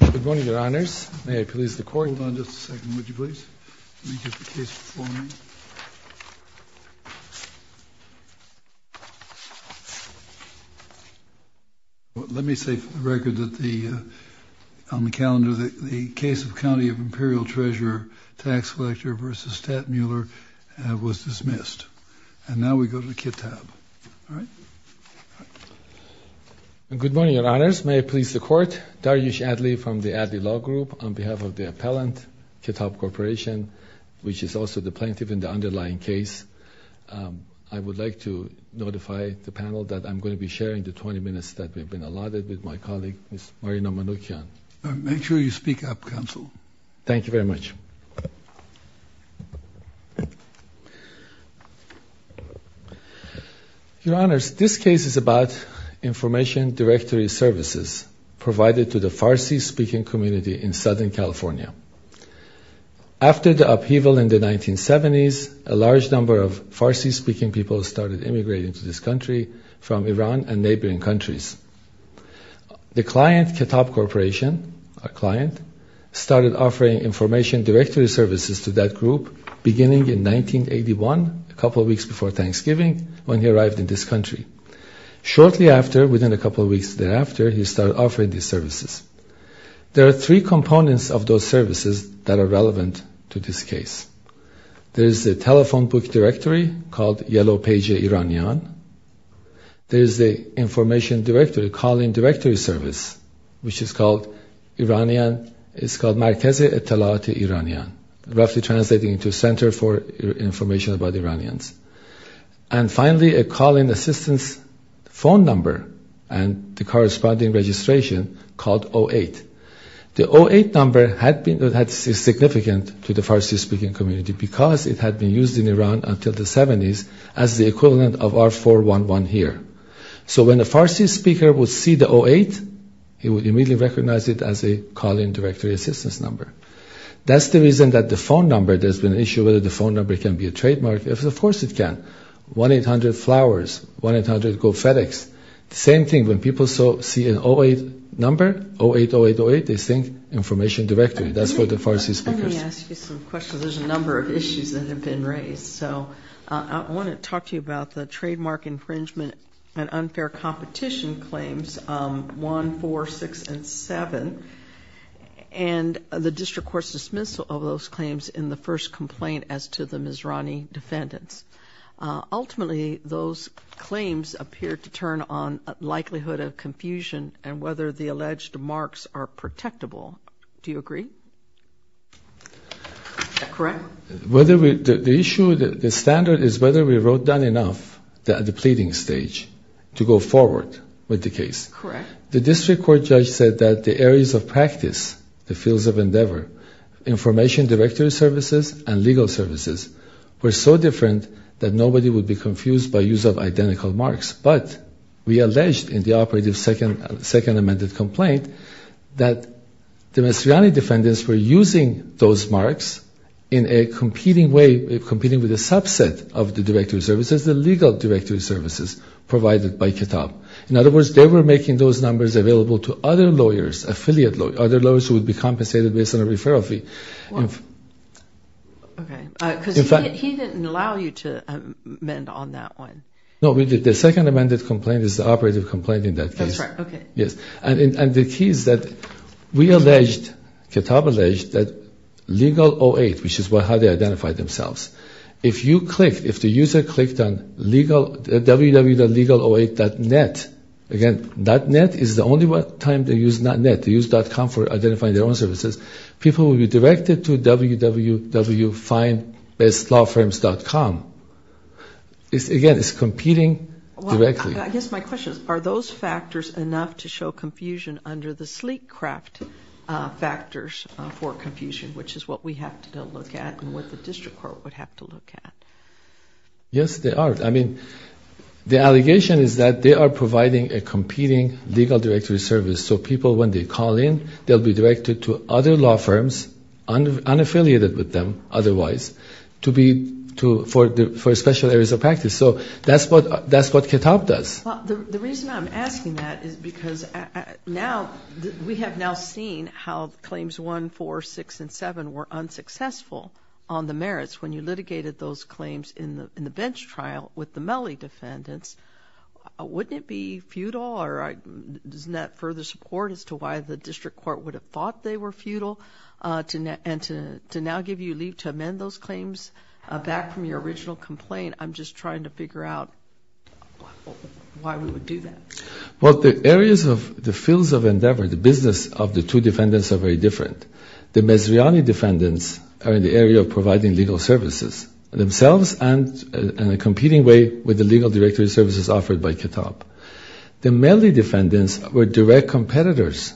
Good morning, Your Honors. May I please the Court? Hold on just a second, would you please? Let me get the case before me. Let me say for the record that the, on the calendar, the case of County of Imperial Treasurer, Tax Collector v. Stattmuller was dismissed. And now we go to the Ketab. All right? Good morning, Your Honors. May I please the Court? Dariush Adly from the Adly Law Group on behalf of the appellant, Ketab Corporation, which is also the plaintiff in the underlying case. I would like to notify the panel that I'm going to be sharing the 20 minutes that have been allotted with my colleague, Ms. Marina Manoukian. Make sure you speak up, Counsel. Thank you very much. Your Honors, this case is about information directory services provided to the Farsi-speaking community in Southern California. After the upheaval in the 1970s, a large number of Farsi-speaking people started immigrating to this country from Iran and neighboring countries. The client, Ketab Corporation, a client, started offering information directory services to that group beginning in 1981, a couple of weeks before Thanksgiving, when he arrived in this country. Shortly after, within a couple of weeks thereafter, he started offering these services. There are three components of those services that are relevant to this case. There is a telephone book directory called Yellow Page Iranian. There is the information directory, call-in directory service, which is called Markeze Etelat-e Iranian, roughly translating to Center for Information about Iranians. And finally, a call-in assistance phone number and the corresponding registration called 08. The 08 number had been significant to the Farsi-speaking community because it had been used in Iran until the 70s as the equivalent of R411 here. So when a Farsi speaker would see the 08, he would immediately recognize it as a call-in directory assistance number. That's the reason that the phone number, there's been an issue whether the phone number can be a trademark. Of course it can. 1-800-Flowers, 1-800-Go-FedEx. Same thing, when people see an 08 number, 080808, they think information directory. That's for the Farsi-speaking person. Let me ask you some questions. There's a number of issues that have been raised. So I want to talk to you about the trademark infringement and unfair competition claims, 1, 4, 6, and 7, and the district court's dismissal of those claims in the first complaint as to the Mizrani defendants. Ultimately, those claims appear to turn on likelihood of confusion and whether the alleged marks are protectable. Do you agree? Is that correct? The issue, the standard is whether we wrote down enough at the pleading stage to go forward with the case. Correct. The district court judge said that the areas of practice, the fields of endeavor, information directory services and legal services were so different that nobody would be confused by use of identical marks. But we alleged in the operative second amended complaint that the Mizrani defendants were using those marks in a competing way, competing with a subset of the directory services, the legal directory services provided by Kitab. In other words, they were making those numbers available to other lawyers, affiliate lawyers, other lawyers who would be compensated based on a referral fee. Okay. Because he didn't allow you to amend on that one. No, we did. The second amended complaint is the operative complaint in that case. That's right. Okay. Yes. And the key is that we alleged, Kitab alleged, that legal 08, which is how they identified themselves, if you click, if the user clicked on www.legal08.net, again, .net is the only time they use .net. They use .com for identifying their own services. People will be directed to www.findbestlawfirms.com. Again, it's competing directly. I guess my question is, are those factors enough to show confusion under the sleek craft factors for confusion, which is what we have to look at and what the district court would have to look at? Yes, they are. I mean, the allegation is that they are providing a competing legal directory service, so people, when they call in, they'll be directed to other law firms, unaffiliated with them otherwise, for special areas of practice. So that's what Kitab does. The reason I'm asking that is because now we have now seen how Claims 1, 4, 6, and 7 were unsuccessful on the merits. When you litigated those claims in the bench trial with the Mellie defendants, wouldn't it be futile? Doesn't that further support as to why the district court would have thought they were futile? And to now give you leave to amend those claims back from your original complaint, I'm just trying to figure out why we would do that. Well, the areas of the fields of endeavor, the business of the two defendants, are very different. The Mezzriani defendants are in the area of providing legal services themselves and in a competing way with the legal directory services offered by Kitab. The Mellie defendants were direct competitors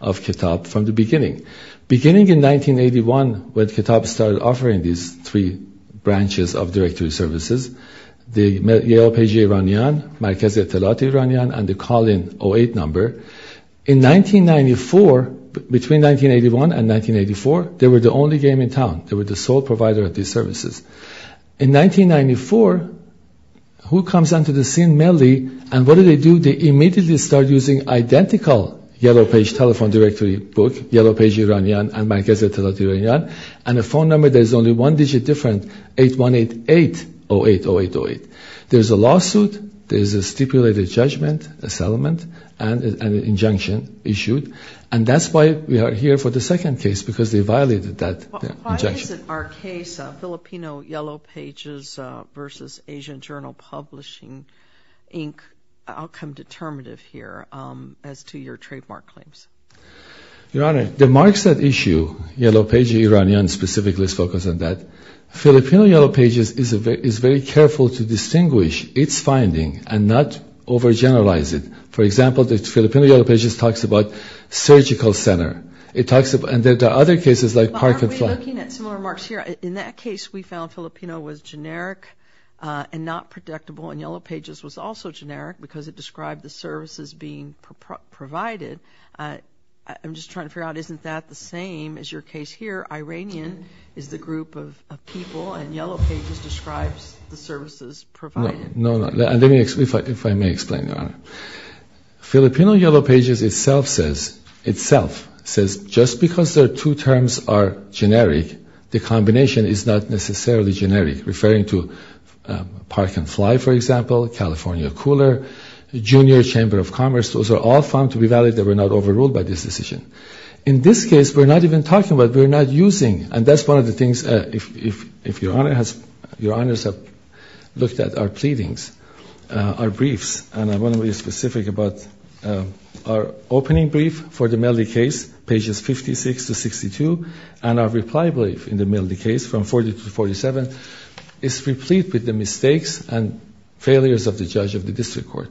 of Kitab from the beginning. Beginning in 1981, when Kitab started offering these three branches of directory services, the Yale Page Iranian, Markezi Atalati Iranian, and the Call-in 08 number, in 1994, between 1981 and 1984, they were the only game in town. They were the sole provider of these services. In 1994, who comes onto the scene, Mellie, and what do they do? They immediately start using identical Yale Page telephone directory books, Yale Page Iranian and Markezi Atalati Iranian, and a phone number that is only one digit different, 8188080808. There's a lawsuit, there's a stipulated judgment, a settlement, and an injunction issued, and that's why we are here for the second case, because they violated that injunction. Why isn't our case Filipino Yellow Pages versus Asian Journal Publishing, Inc., outcome determinative here as to your trademark claims? Your Honor, the marks that issue, Yale Page Iranian specifically is focused on that. Filipino Yellow Pages is very careful to distinguish its finding and not overgeneralize it. For example, the Filipino Yellow Pages talks about surgical center, and there are other cases like park and flight. Why aren't we looking at similar marks here? In that case, we found Filipino was generic and not predictable, and Yellow Pages was also generic because it described the services being provided. I'm just trying to figure out, isn't that the same as your case here? Iranian is the group of people, and Yellow Pages describes the services provided. If I may explain, Your Honor. Filipino Yellow Pages itself says just because their two terms are generic, the combination is not necessarily generic, referring to park and flight, for example, California Cooler, Junior Chamber of Commerce. Those are all found to be valid. They were not overruled by this decision. In this case, we're not even talking about it. That's one of the things, if Your Honor has looked at our briefs, and I want to be specific about our opening brief for the Melody case, pages 56 to 62, and our reply brief in the Melody case from 40 to 47. It's replete with the mistakes and failures of the judge of the district court.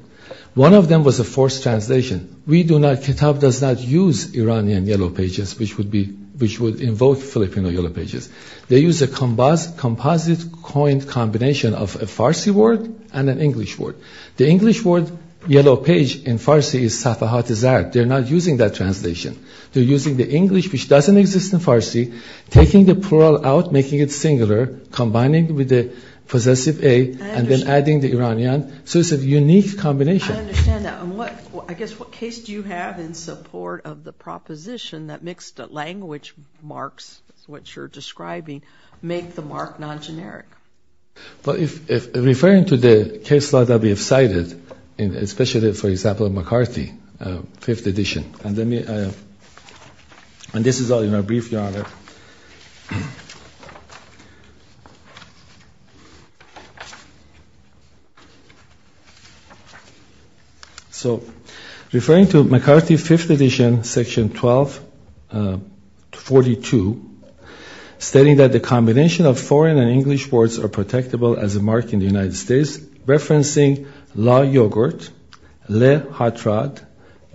One of them was a forced translation. Kitab does not use Iranian Yellow Pages, which would invoke Filipino Yellow Pages. They use a composite coined combination of a Farsi word and an English word. The English word Yellow Page in Farsi is Safahat-e-Zarab. They're not using that translation. They're using the English, which doesn't exist in Farsi, taking the plural out, making it singular, combining with the possessive A, and then adding the Iranian. So it's a unique combination. I understand that. I guess what case do you have in support of the proposition that mixed-language marks, which you're describing, make the mark non-generic? Referring to the case law that we have cited, especially, for example, McCarthy, Fifth Edition, and this is all in a brief, Your Honor. So, referring to McCarthy, Fifth Edition, Section 1242, stating that the combination of foreign and English words are protectable as a mark in the United States, referencing La Yogurt, Le Hot Rod,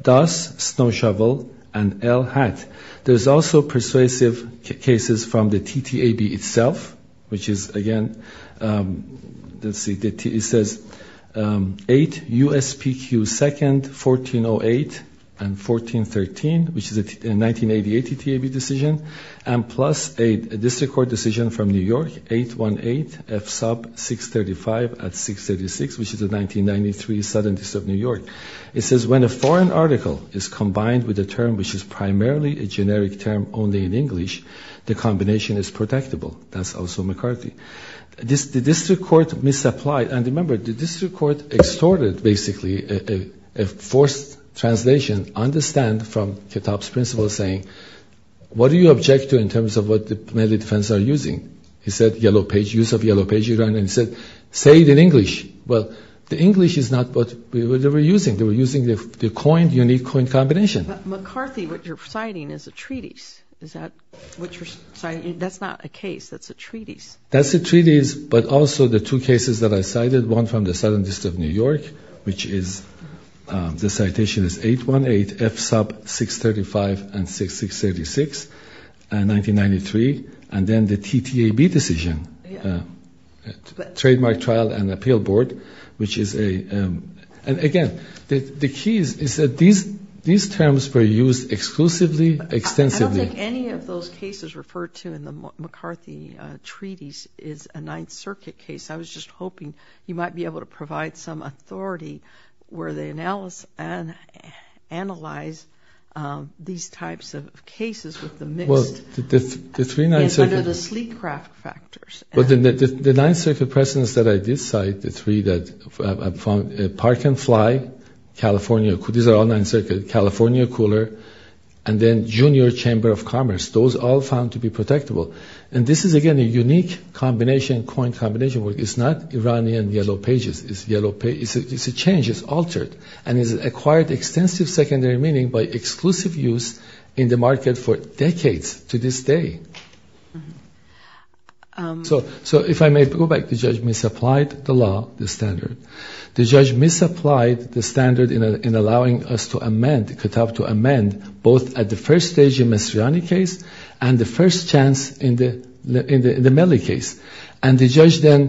Das Snow Shovel, and El Hat. There's also persuasive cases from the TTAB itself, which is, again, let's see. It says 8 USPQ 2nd, 1408, and 1413, which is a 1988 TTAB decision, and plus a district court decision from New York, 818 F sub 635 at 636, which is a 1993 Southern District of New York. It says when a foreign article is combined with a term which is primarily a generic term only in English, the combination is protectable. That's also McCarthy. The district court misapplied, and remember, the district court extorted, basically, a forced translation, understand from Kitab's principle saying, what do you object to in terms of what the military defense are using? He said, yellow page, use of yellow page, Your Honor, and he said, say it in English. Well, the English is not what they were using. They were using the coin, unique coin combination. But McCarthy, what you're citing is a treatise. Is that what you're citing? That's not a case. That's a treatise. That's a treatise, but also the two cases that I cited, one from the Southern District of New York, which is the citation is 818 F sub 635 and 636, 1993, and then the TTAB decision, Trademark Trial and Appeal Board, which is a, and again, the key is that these terms were used exclusively, extensively. I don't think any of those cases referred to in the McCarthy treatise is a Ninth Circuit case. I was just hoping you might be able to provide some authority where they analyze these types of cases with the mixed, under the sleek craft factors. The Ninth Circuit precedents that I did cite, the three that I found, Park and Fly, California, these are all Ninth Circuit, California Cooler, and then Junior Chamber of Commerce. Those all found to be protectable. And this is, again, a unique combination, coin combination. It's not Iranian yellow pages. It's a change. It's altered. And it's acquired extensive secondary meaning by exclusive use in the market for decades to this day. So if I may go back, the judge misapplied the law, the standard. The judge misapplied the standard in allowing us to amend, both at the first stage in the Mastriani case and the first chance in the Melle case. And the judge then,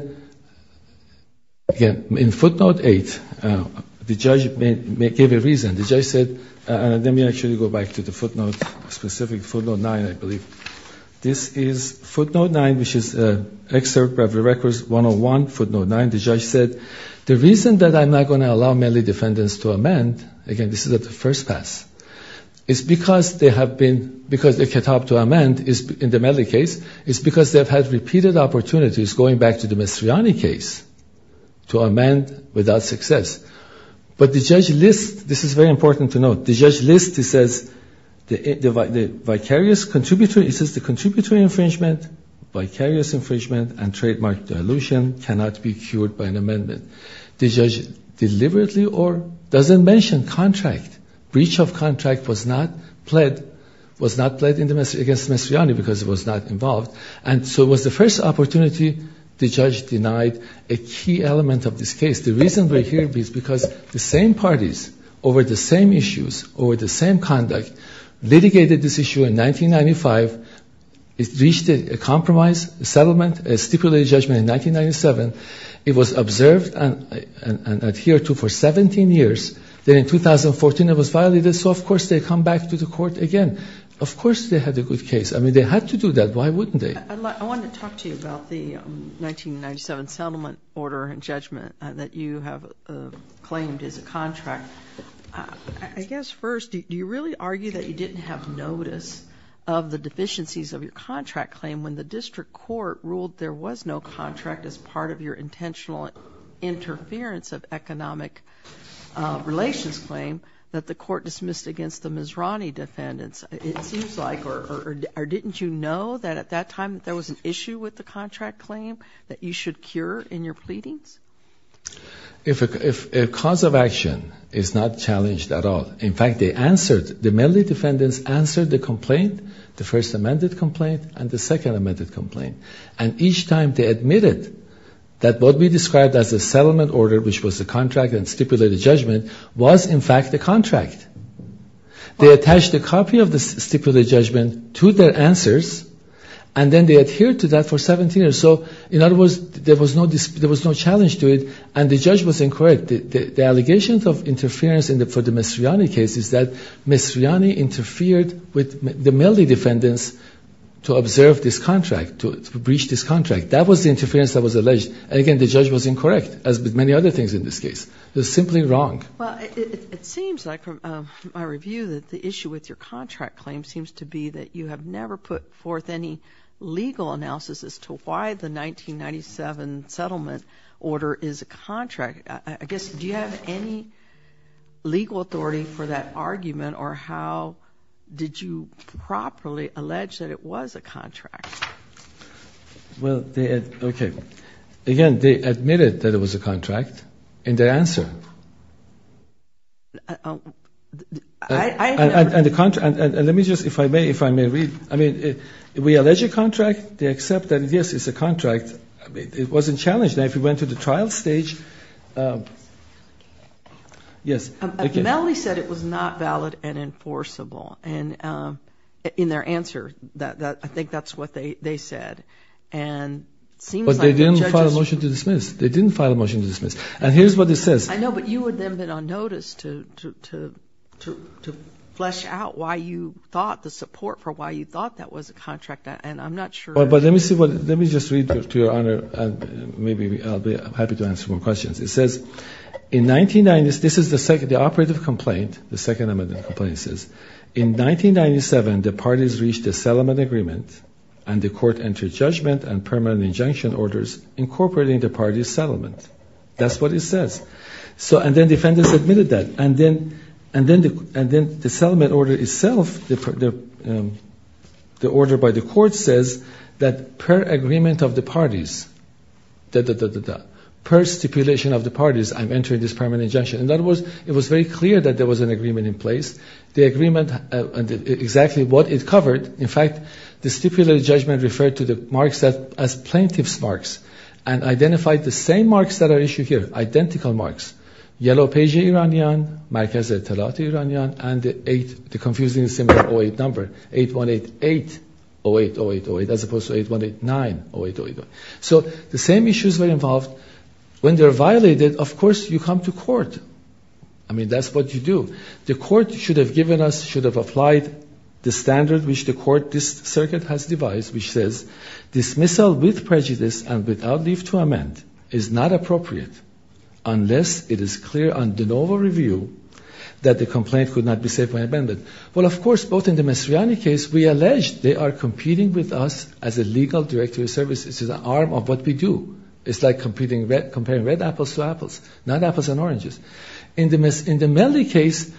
again, in footnote eight, the judge gave a reason. The judge said, and let me actually go back to the footnote specific, footnote nine, I believe. This is footnote nine, which is an excerpt of the records 101, footnote nine. The judge said, the reason that I'm not going to allow Melle defendants to amend, again, this is at the first pass, is because they have been, because they're kept up to amend in the Melle case, is because they've had repeated opportunities, going back to the Mastriani case, to amend without success. But the judge lists, this is very important to note, the judge lists, he says, the vicarious contributory, he says the contributory infringement, vicarious infringement, and trademark dilution cannot be cured by an amendment. The judge deliberately or doesn't mention contract. Breach of contract was not pled, was not pled against Mastriani because it was not involved. And so it was the first opportunity the judge denied a key element of this case. The reason we're here is because the same parties, over the same issues, over the same conduct, litigated this issue in 1995. It reached a compromise, a settlement, a stipulated judgment in 1997. It was observed and adhered to for 17 years. Then in 2014, it was violated. So, of course, they come back to the court again. Of course they had a good case. I mean, they had to do that. Why wouldn't they? I want to talk to you about the 1997 settlement order and judgment that you have claimed is a contract. I guess first, do you really argue that you didn't have notice of the deficiencies of your contract claim when the district court ruled there was no contract as part of your intentional interference of economic relations claim that the court dismissed against the Mastriani defendants, it seems like, or didn't you know that at that time there was an issue with the contract claim that you should cure in your pleadings? If a cause of action is not challenged at all, in fact, they answered. The Medley defendants answered the complaint, the first amended complaint, and the second amended complaint. And each time they admitted that what we described as a settlement order, which was a contract and stipulated judgment, was in fact a contract. They attached a copy of the stipulated judgment to their answers, and then they adhered to that for 17 years. So, in other words, there was no challenge to it, and the judge was incorrect. The allegations of interference for the Mastriani case is that Mastriani interfered with the Medley defendants to observe this contract, to breach this contract. That was the interference that was alleged. Again, the judge was incorrect, as with many other things in this case. It was simply wrong. Well, it seems like from my review that the issue with your contract claim seems to be that you have never put forth any legal analysis as to why the 1997 settlement order is a contract. I guess, do you have any legal authority for that argument, or how did you properly allege that it was a contract? Well, okay. Again, they admitted that it was a contract in their answer. And let me just, if I may, if I may read. I mean, we allege a contract. They accept that, yes, it's a contract. It wasn't challenged. Now, if you went to the trial stage, yes. The Medley said it was not valid and enforceable in their answer. I think that's what they said. But they didn't file a motion to dismiss. They didn't file a motion to dismiss. And here's what it says. I know, but you would then have been on notice to flesh out why you thought, the support for why you thought that was a contract. And I'm not sure. But let me see. Let me just read to Your Honor. Maybe I'll be happy to answer more questions. It says, in 1990s, this is the second, the operative complaint, the second amendment complaint says, in 1997, the parties reached a settlement agreement, and the court entered judgment and permanent injunction orders incorporating the parties' settlement. That's what it says. And then defendants admitted that. And then the settlement order itself, the order by the court, says that per agreement of the parties, per stipulation of the parties, I'm entering this permanent injunction. In other words, it was very clear that there was an agreement in place. The agreement, exactly what it covered, in fact, the stipulated judgment referred to the marks as plaintiff's marks and identified the same marks that are issued here, identical marks, Yellow Page Iranian, Markez-e-Talat Iranian, and the confusingly similar 08 number, 8188080808, as opposed to 81890808. So the same issues were involved. When they're violated, of course, you come to court. I mean, that's what you do. The court should have given us, should have applied the standard which the court, this circuit has devised, which says, dismissal with prejudice and without leave to amend is not appropriate unless it is clear on de novo review that the complaint could not be saved by amendment. Well, of course, both in the Mastriani case, we allege they are competing with us as a legal directory of services. It's an arm of what we do. It's like comparing red apples to apples, not apples and oranges. In the Mellie case,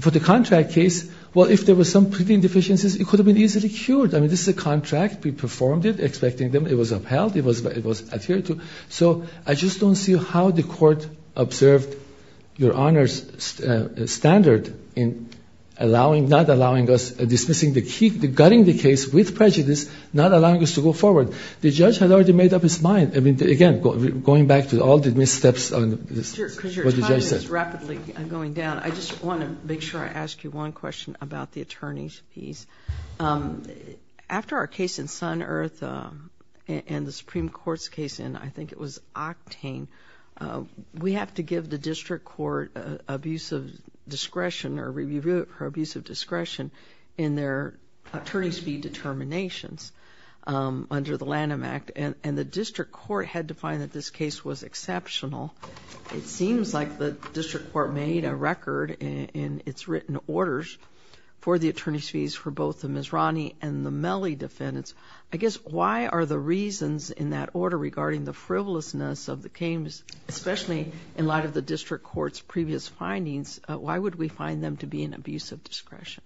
for the contract case, well, if there were some pretty deficiencies, it could have been easily cured. I mean, this is a contract. We performed it, expecting them. It was upheld. It was adhered to. So I just don't see how the court observed Your Honor's standard in allowing, not allowing us, dismissing the key, gutting the case with prejudice, not allowing us to go forward. The judge had already made up his mind. I mean, again, going back to all the missteps on what the judge said. Just rapidly going down, I just want to make sure I ask you one question about the attorney's fees. After our case in Sun Earth and the Supreme Court's case in, I think it was, Octane, we have to give the district court abuse of discretion or review of her abuse of discretion in their attorney's fee determinations under the Lanham Act. And the district court had to find that this case was exceptional. It seems like the district court made a record in its written orders for the attorney's fees for both the Mizrani and the Mellie defendants. I guess why are the reasons in that order regarding the frivolousness of the Kames, especially in light of the district court's previous findings, why would we find them to be an abuse of discretion?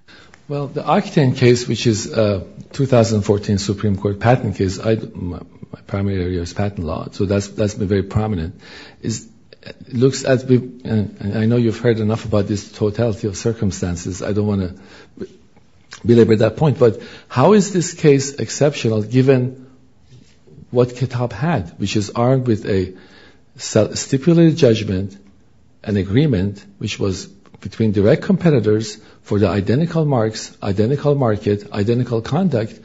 Well, the Octane case, which is a 2014 Supreme Court patent case, my primary area is patent law, so that's been very prominent. It looks as if, and I know you've heard enough about this totality of circumstances. I don't want to belabor that point. But how is this case exceptional given what Kitab had, which is armed with a stipulated judgment, an agreement, which was between direct competitors for the identical marks, identical market, identical conduct,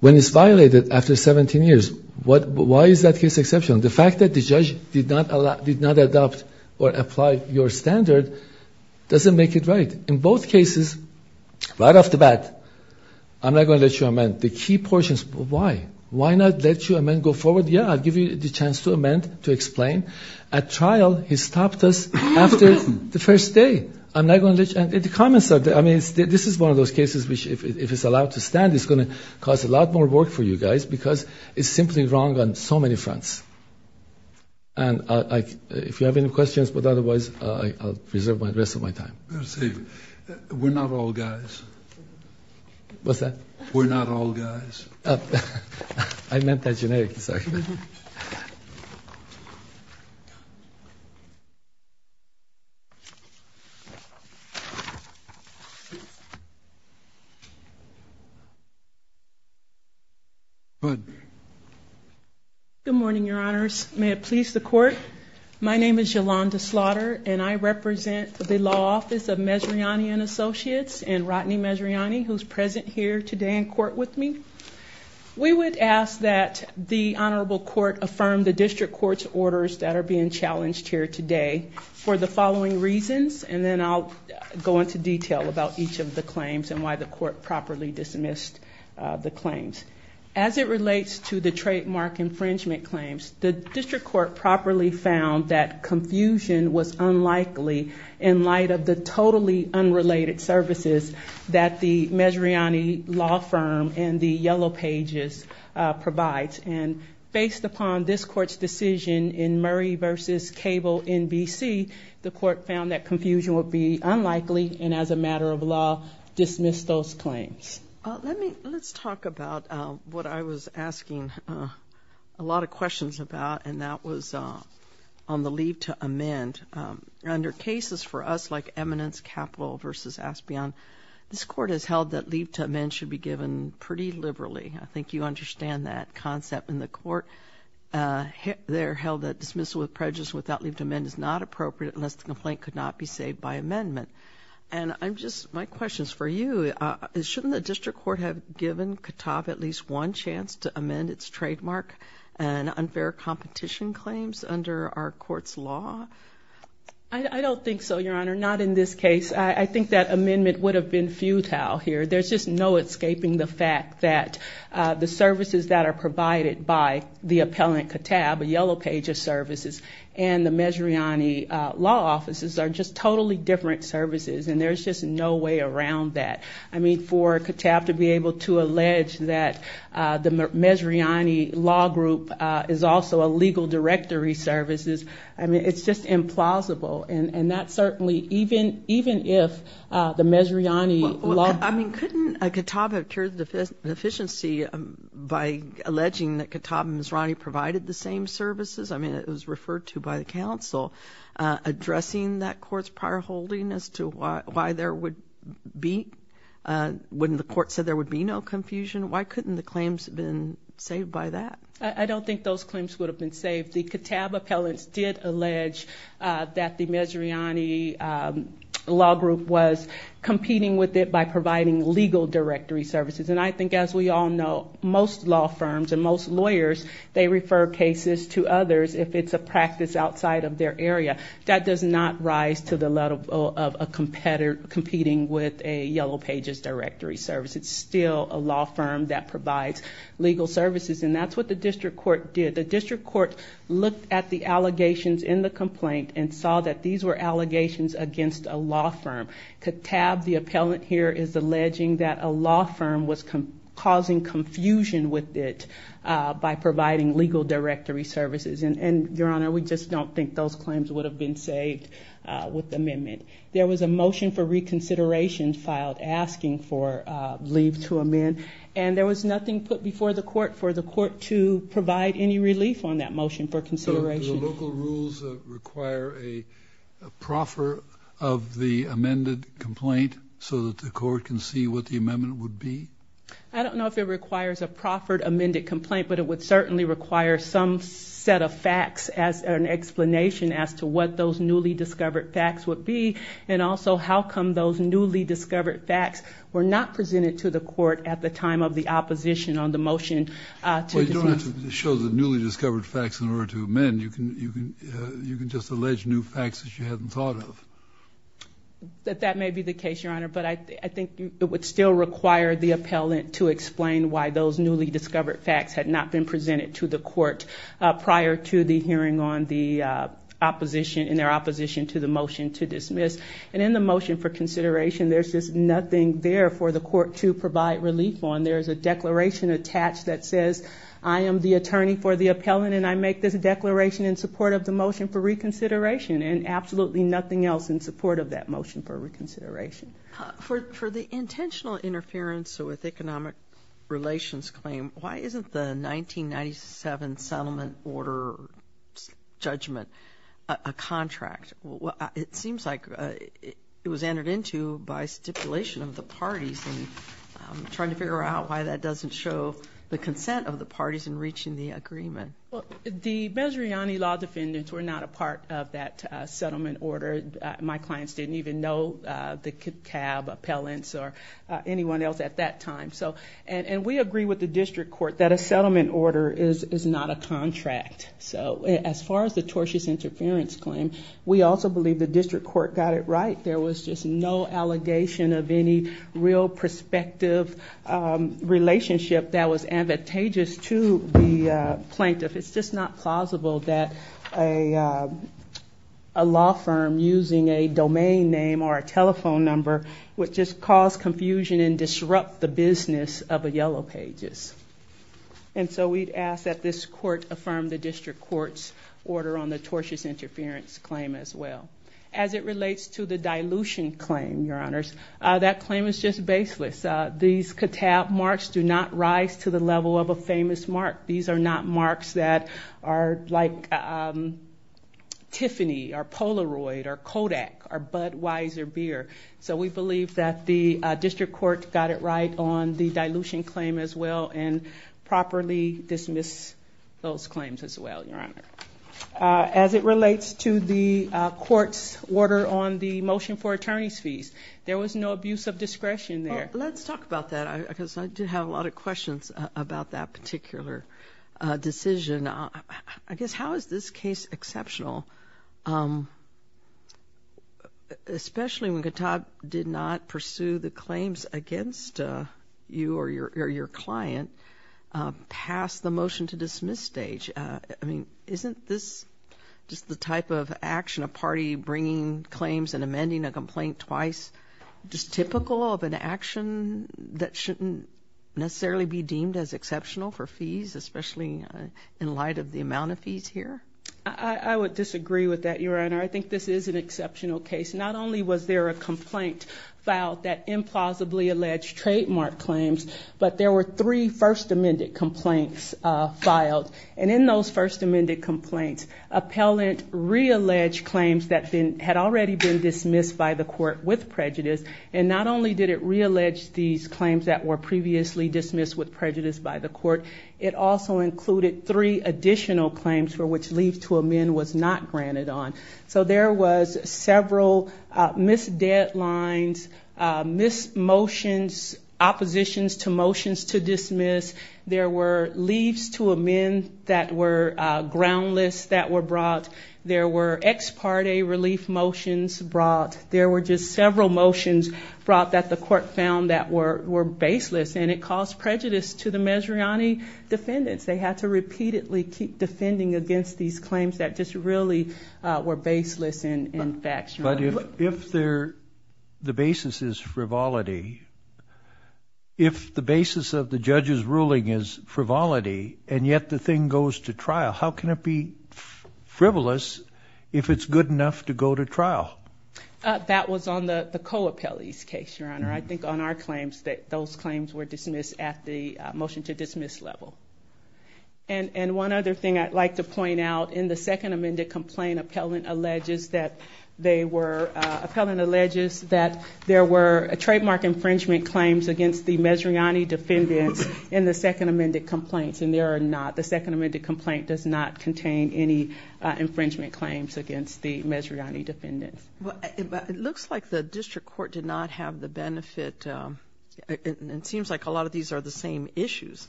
when it's violated after 17 years. Why is that case exceptional? The fact that the judge did not adopt or apply your standard doesn't make it right. In both cases, right off the bat, I'm not going to let you amend. The key portions, why? Why not let you amend, go forward, yeah, I'll give you the chance to amend, to explain. At trial, he stopped us after the first day. I'm not going to let you amend. The comments are, I mean, this is one of those cases which, if it's allowed to stand, it's going to cause a lot more work for you guys because it's simply wrong on so many fronts. And if you have any questions, but otherwise, I'll reserve the rest of my time. We're not all guys. What's that? We're not all guys. I meant that generically, sorry. Go ahead. Good morning, Your Honors. May it please the Court, my name is Yolanda Slaughter, and I represent the Law Office of Mezzriani & Associates and Rodney Mezzriani, who's present here today in court with me. We would ask that the Honorable Court affirm the District Court's orders that are being challenged here today for the following reasons, and then I'll go into detail about each of the claims and why the Court properly dismissed the claims. As it relates to the trademark infringement claims, the District Court properly found that confusion was unlikely in light of the totally unrelated services that the Mezzriani law firm and the Yellow Pages provide, and based upon this Court's decision in Murray v. Cable, NBC, the Court found that confusion would be unlikely and, as a matter of law, dismissed those claims. Let's talk about what I was asking a lot of questions about, and that was on the leave to amend. Under cases for us like Eminence Capital v. Aspion, this Court has held that leave to amend should be given pretty liberally. I think you understand that concept in the Court. They're held that dismissal with prejudice without leave to amend is not appropriate unless the complaint could not be saved by amendment. My question is for you. Shouldn't the District Court have given CATAB at least one chance to amend its trademark and unfair competition claims under our Court's law? I don't think so, Your Honor, not in this case. I think that amendment would have been futile here. There's just no escaping the fact that the services that are provided by the appellant CATAB, a yellow page of services, and the Mezzrani law offices are just totally different services, and there's just no way around that. I mean, for CATAB to be able to allege that the Mezzrani law group is also a legal directory services, I mean, it's just implausible, and that certainly, even if the Mezzrani law group- I mean, it was referred to by the counsel, addressing that court's prior holding as to why there would be, when the court said there would be no confusion. Why couldn't the claims have been saved by that? I don't think those claims would have been saved. The CATAB appellants did allege that the Mezzrani law group was competing with it by providing legal directory services, and I think, as we all know, most law firms and most lawyers, they refer cases to others if it's a practice outside of their area. That does not rise to the level of a competitor competing with a yellow pages directory service. It's still a law firm that provides legal services, and that's what the district court did. The district court looked at the allegations in the complaint and saw that these were allegations against a law firm. CATAB, the appellant here, is alleging that a law firm was causing confusion with it by providing legal directory services, and, Your Honor, we just don't think those claims would have been saved with the amendment. There was a motion for reconsideration filed asking for leave to amend, and there was nothing put before the court for the court to provide any relief on that motion for consideration. Do the local rules require a proffer of the amended complaint so that the court can see what the amendment would be? I don't know if it requires a proffered amended complaint, but it would certainly require some set of facts as an explanation as to what those newly discovered facts would be and also how come those newly discovered facts were not presented to the court at the time of the opposition on the motion. Well, you don't have to show the newly discovered facts in order to amend. You can just allege new facts that you hadn't thought of. That may be the case, Your Honor, but I think it would still require the appellant to explain why those newly discovered facts had not been presented to the court prior to the hearing in their opposition to the motion to dismiss. And in the motion for consideration, there's just nothing there for the court to provide relief on. There's a declaration attached that says I am the attorney for the appellant and I make this declaration in support of the motion for reconsideration and absolutely nothing else in support of that motion for reconsideration. For the intentional interference with economic relations claim, why isn't the 1997 settlement order judgment a contract? It seems like it was entered into by stipulation of the parties and I'm trying to figure out why that doesn't show the consent of the parties in reaching the agreement. Well, the Benzeriani law defendants were not a part of that settlement order. My clients didn't even know the CAB appellants or anyone else at that time. And we agree with the district court that a settlement order is not a contract. So as far as the tortious interference claim, we also believe the district court got it right. There was just no allegation of any real prospective relationship that was advantageous to the plaintiff. It's just not plausible that a law firm using a domain name or a telephone number would just cause confusion and disrupt the business of the Yellow Pages. And so we'd ask that this court affirm the district court's order on the tortious interference claim as well. As it relates to the dilution claim, Your Honors, that claim is just baseless. These catap marks do not rise to the level of a famous mark. These are not marks that are like Tiffany or Polaroid or Kodak or Budweiser beer. So we believe that the district court got it right on the dilution claim as well and properly dismiss those claims as well, Your Honor. As it relates to the court's order on the motion for attorney's fees, there was no abuse of discretion there. Let's talk about that because I do have a lot of questions about that particular decision. I guess how is this case exceptional, especially when Qatar did not pursue the claims against you or your client past the motion to dismiss stage? I mean, isn't this just the type of action, a party bringing claims and amending a complaint twice, just typical of an action that shouldn't necessarily be deemed as exceptional for fees, especially in light of the amount of fees here? I would disagree with that, Your Honor. I think this is an exceptional case. Not only was there a complaint filed that implausibly alleged trademark claims, but there were three First Amendment complaints filed. And in those First Amendment complaints, appellant realleged claims that had already been dismissed by the court with prejudice. And not only did it reallege these claims that were previously dismissed with prejudice by the court, it also included three additional claims for which leave to amend was not granted on. So there was several missed deadlines, missed motions, oppositions to motions to dismiss. There were leaves to amend that were groundless that were brought. There were ex parte relief motions brought. There were just several motions brought that the court found that were baseless, and it caused prejudice to the Mezriani defendants. They had to repeatedly keep defending against these claims that just really were baseless in fact. But if the basis is frivolity, if the basis of the judge's ruling is frivolity, and yet the thing goes to trial, how can it be frivolous if it's good enough to go to trial? That was on the co-appellee's case, Your Honor. I think on our claims that those claims were dismissed at the motion to dismiss level. And one other thing I'd like to point out, in the second amended complaint, appellant alleges that there were trademark infringement claims against the Mezriani defendants in the second amended complaints, and there are not. The second amended complaint does not contain any infringement claims against the Mezriani defendants. It looks like the district court did not have the benefit. It seems like a lot of these are the same issues.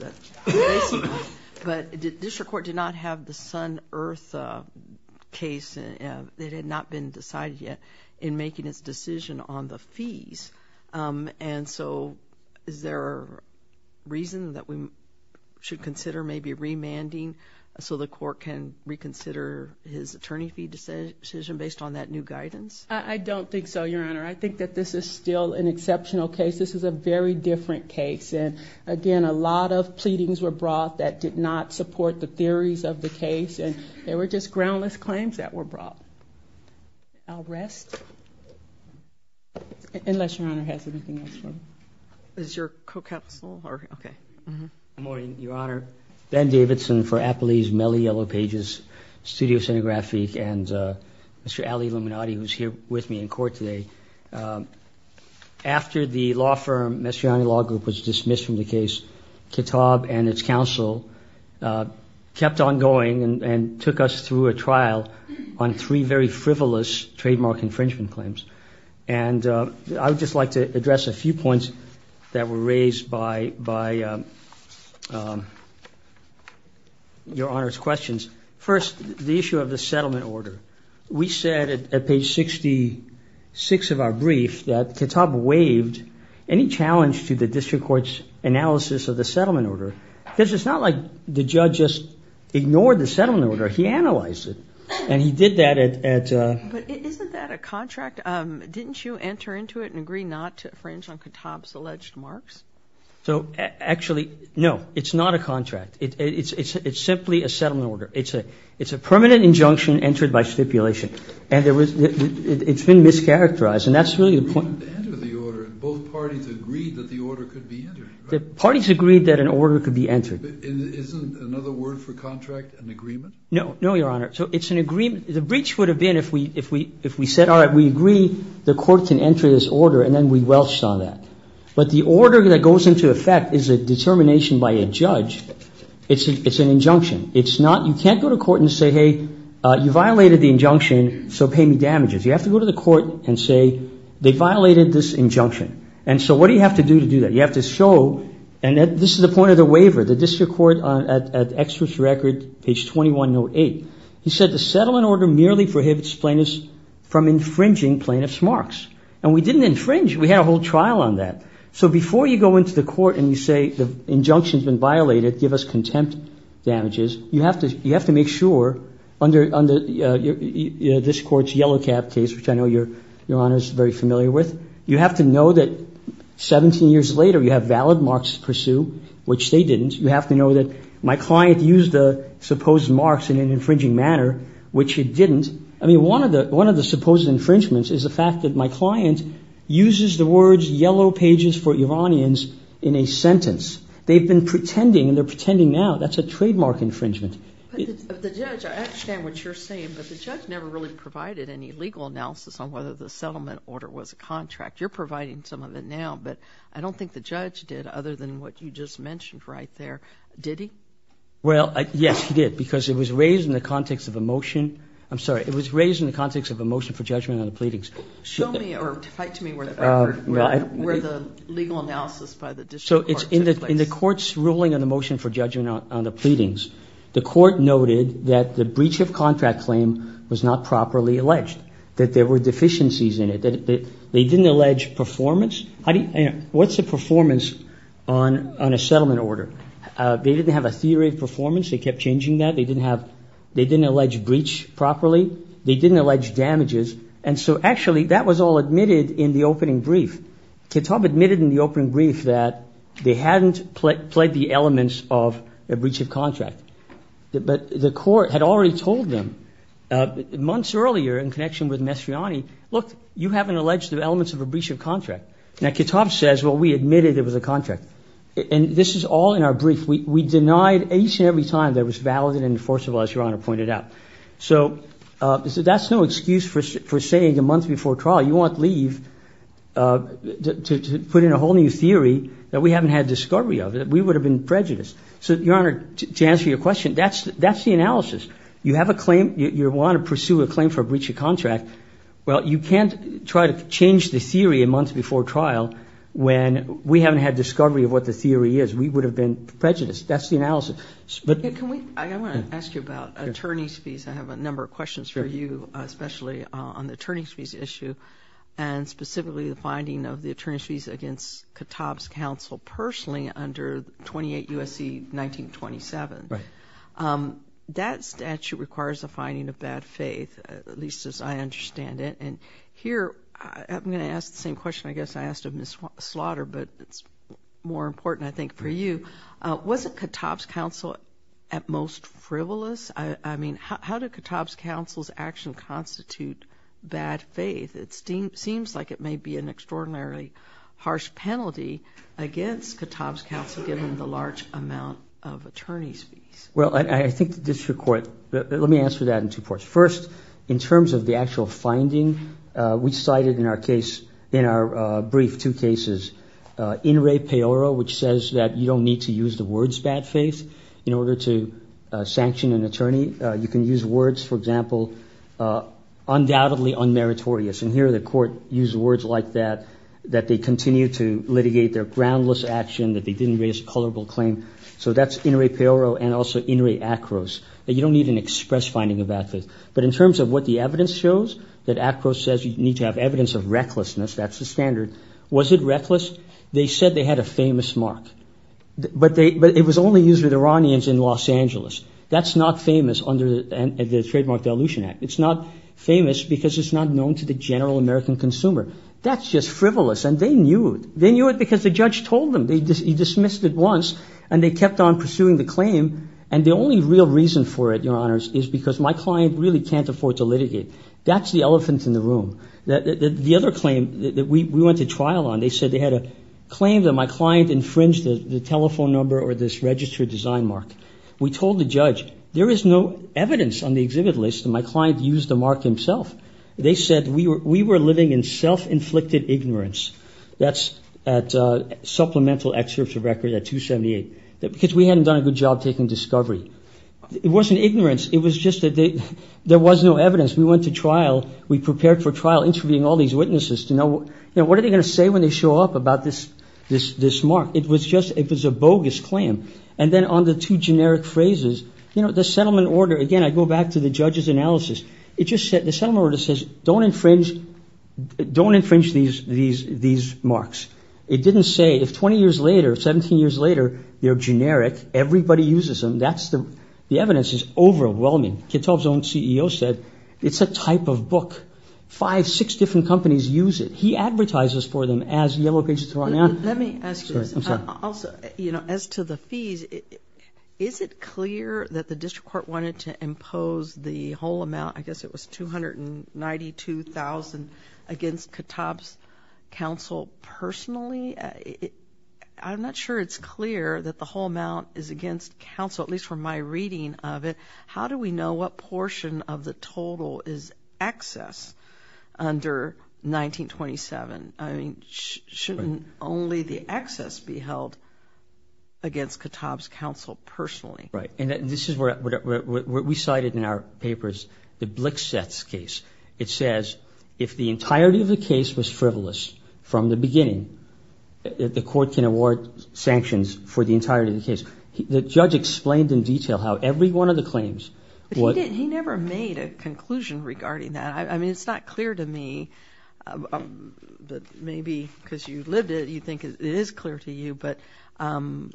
But the district court did not have the Sun-Earth case. It had not been decided yet in making its decision on the fees. And so is there a reason that we should consider maybe remanding so the court can reconsider his attorney fee decision based on that new guidance? I don't think so, Your Honor. I think that this is still an exceptional case. This is a very different case. And again, a lot of pleadings were brought that did not support the theories of the case, and they were just groundless claims that were brought. I'll rest, unless Your Honor has anything else. Is your co-counsel? Good morning, Your Honor. Ben Davidson for Appleease, Mellie Yellow Pages, Studio Cinegraphic, and Mr. Ali Luminati, who is here with me in court today. After the law firm, Mezriani Law Group, was dismissed from the case, Kitab and its counsel kept on going and took us through a trial on three very frivolous trademark infringement claims. And I would just like to address a few points that were raised by Your Honor's questions. First, the issue of the settlement order. We said at page 66 of our brief that Kitab waived any challenge to the district court's analysis of the settlement order because it's not like the judge just ignored the settlement order. He analyzed it, and he did that at the- Didn't you enter into it and agree not to infringe on Kitab's alleged marks? So, actually, no. It's not a contract. It's simply a settlement order. It's a permanent injunction entered by stipulation. And it's been mischaracterized, and that's really the point. Both parties agreed that the order could be entered. The parties agreed that an order could be entered. Isn't another word for contract an agreement? No. No, Your Honor. So it's an agreement. The breach would have been if we said, all right, we agree the court can enter this order, and then we welched on that. But the order that goes into effect is a determination by a judge. It's an injunction. It's not you can't go to court and say, hey, you violated the injunction, so pay me damages. You have to go to the court and say they violated this injunction. And so what do you have to do to do that? You have to show, and this is the point of the waiver, the district court at Exeter's record, page 2108. He said the settlement order merely prohibits plaintiffs from infringing plaintiff's marks. And we didn't infringe. We had a whole trial on that. So before you go into the court and you say the injunction's been violated, give us contempt damages, you have to make sure under this court's yellow cap case, which I know Your Honor's very familiar with, you have to know that 17 years later you have valid marks to pursue, which they didn't. You have to know that my client used the supposed marks in an infringing manner, which he didn't. I mean, one of the supposed infringements is the fact that my client uses the words yellow pages for Iranians in a sentence. They've been pretending, and they're pretending now. That's a trademark infringement. But the judge, I understand what you're saying, but the judge never really provided any legal analysis on whether the settlement order was a contract. You're providing some of it now, but I don't think the judge did other than what you just mentioned right there. Did he? Well, yes, he did, because it was raised in the context of a motion. I'm sorry, it was raised in the context of a motion for judgment on the pleadings. Show me or write to me where the legal analysis by the district court took place. So in the court's ruling on the motion for judgment on the pleadings, the court noted that the breach of contract claim was not properly alleged, that there were deficiencies in it, that they didn't allege performance. What's the performance on a settlement order? They didn't have a theory of performance. They kept changing that. They didn't allege breach properly. They didn't allege damages. And so, actually, that was all admitted in the opening brief. Kitab admitted in the opening brief that they hadn't played the elements of a breach of contract. But the court had already told them months earlier in connection with Mestriani, look, you haven't alleged the elements of a breach of contract. Now, Kitab says, well, we admitted it was a contract. And this is all in our brief. We denied each and every time that it was valid and enforceable, as Your Honor pointed out. So that's no excuse for saying a month before trial, you won't leave to put in a whole new theory that we haven't had discovery of, that we would have been prejudiced. So, Your Honor, to answer your question, that's the analysis. You have a claim. You want to pursue a claim for a breach of contract. Well, you can't try to change the theory a month before trial when we haven't had discovery of what the theory is. We would have been prejudiced. That's the analysis. I want to ask you about attorney's fees. I have a number of questions for you, especially on the attorney's fees issue, and specifically the finding of the attorney's fees against Kitab's counsel personally under 28 U.S.C. 1927. Right. That statute requires a finding of bad faith, at least as I understand it. And here, I'm going to ask the same question I guess I asked of Ms. Slaughter, but it's more important, I think, for you. Wasn't Kitab's counsel at most frivolous? I mean, how did Kitab's counsel's action constitute bad faith? It seems like it may be an extraordinarily harsh penalty against Kitab's counsel given the large amount of attorney's fees. Well, I think the district court – let me answer that in two parts. First, in terms of the actual finding, we cited in our brief two cases, In re peoro, which says that you don't need to use the words bad faith in order to sanction an attorney. You can use words, for example, undoubtedly unmeritorious. And here, the court used words like that, that they continue to litigate their groundless action, that they didn't raise a culpable claim. So that's in re peoro and also in re acros, that you don't need an express finding of bad faith. But in terms of what the evidence shows, that acros says you need to have evidence of recklessness. That's the standard. Was it reckless? They said they had a famous mark. But it was only used with Iranians in Los Angeles. That's not famous under the Trademark Dilution Act. It's not famous because it's not known to the general American consumer. That's just frivolous, and they knew it. They knew it because the judge told them. He dismissed it once, and they kept on pursuing the claim. And the only real reason for it, Your Honors, is because my client really can't afford to litigate. That's the elephant in the room. The other claim that we went to trial on, they said they had a claim that my client infringed the telephone number or this registered design mark. We told the judge, there is no evidence on the exhibit list that my client used the mark himself. They said we were living in self-inflicted ignorance. That's at supplemental excerpts of record at 278, because we hadn't done a good job taking discovery. It wasn't ignorance. We went to trial. We prepared for trial, interviewing all these witnesses to know, you know, what are they going to say when they show up about this mark? It was a bogus claim. And then on the two generic phrases, you know, the settlement order, again, I go back to the judge's analysis. The settlement order says don't infringe these marks. It didn't say if 20 years later, 17 years later, you're generic, everybody uses them. The evidence is overwhelming. Katov's own CEO said it's a type of book. Five, six different companies use it. He advertises for them as Yellow Pages of Toronto. Let me ask you this. I'm sorry. Also, you know, as to the fees, is it clear that the district court wanted to impose the whole amount, I guess it was $292,000 against Katov's counsel personally? I'm not sure it's clear that the whole amount is against counsel, at least from my reading of it. How do we know what portion of the total is excess under 1927? I mean, shouldn't only the excess be held against Katov's counsel personally? Right. And this is what we cited in our papers, the Blixeths case. It says if the entirety of the case was frivolous from the beginning, The judge explained in detail how every one of the claims. He never made a conclusion regarding that. I mean, it's not clear to me, but maybe because you lived it, you think it is clear to you. But from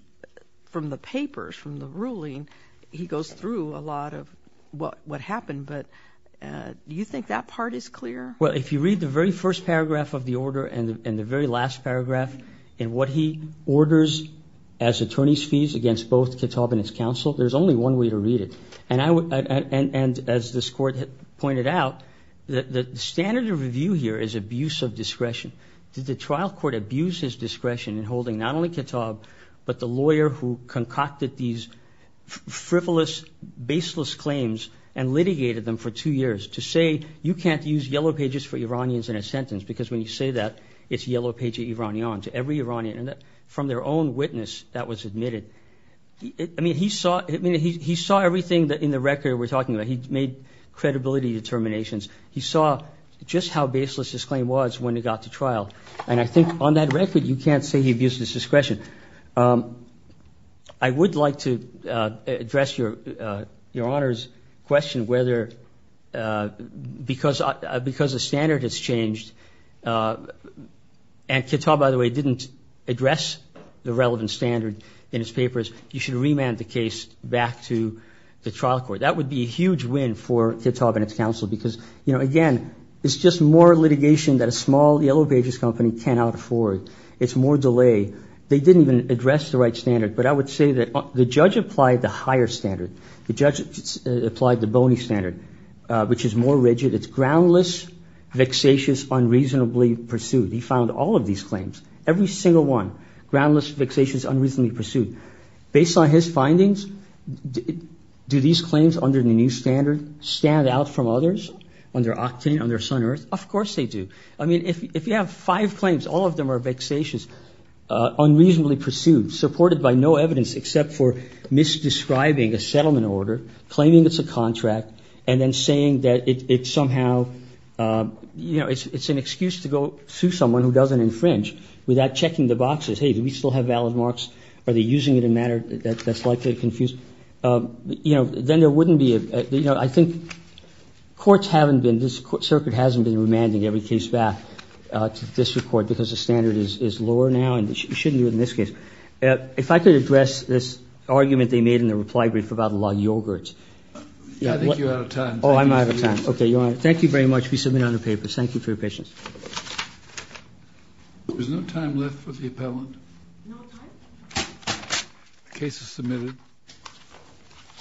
the papers, from the ruling, he goes through a lot of what happened. But do you think that part is clear? Well, if you read the very first paragraph of the order and the very last paragraph in what he orders as attorney's fees against both Katov and his counsel, there's only one way to read it. And as this court pointed out, the standard of review here is abuse of discretion. Did the trial court abuse his discretion in holding not only Katov, but the lawyer who concocted these frivolous, baseless claims and litigated them for two years to say you can't use yellow pages for Iranians in a sentence because when you say that, it's a yellow page of Iranians, every Iranian. And from their own witness, that was admitted. I mean, he saw everything in the record we're talking about. He made credibility determinations. He saw just how baseless this claim was when it got to trial. And I think on that record, you can't say he abused his discretion. I would like to address Your Honor's question whether because the standard has changed, and Katov, by the way, didn't address the relevant standard in his papers, you should remand the case back to the trial court. That would be a huge win for Katov and his counsel because, you know, again, it's just more litigation that a small yellow pages company cannot afford. It's more delay. They didn't even address the right standard. But I would say that the judge applied the higher standard. The judge applied the bony standard, which is more rigid. It's groundless, vexatious, unreasonably pursued. He found all of these claims, every single one, groundless, vexatious, unreasonably pursued. Based on his findings, do these claims under the new standard stand out from others, under Octane, under Sun-Earth? Of course they do. I mean, if you have five claims, all of them are vexatious, unreasonably pursued, supported by no evidence except for misdescribing a settlement order, claiming it's a contract, and then saying that it's somehow, you know, it's an excuse to go sue someone who doesn't infringe without checking the boxes. Hey, do we still have valid marks? Are they using it in a manner that's likely to confuse? You know, then there wouldn't be a, you know, I think courts haven't been, this circuit hasn't been remanding every case back to the district court because the standard is lower now and it shouldn't be in this case. If I could address this argument they made in the reply brief about a lot of yogurts. I think you're out of time. Oh, I'm out of time. Okay, Your Honor. Thank you very much. We submit it on the papers. Thank you for your patience. There's no time left for the appellant. No time? The case is submitted.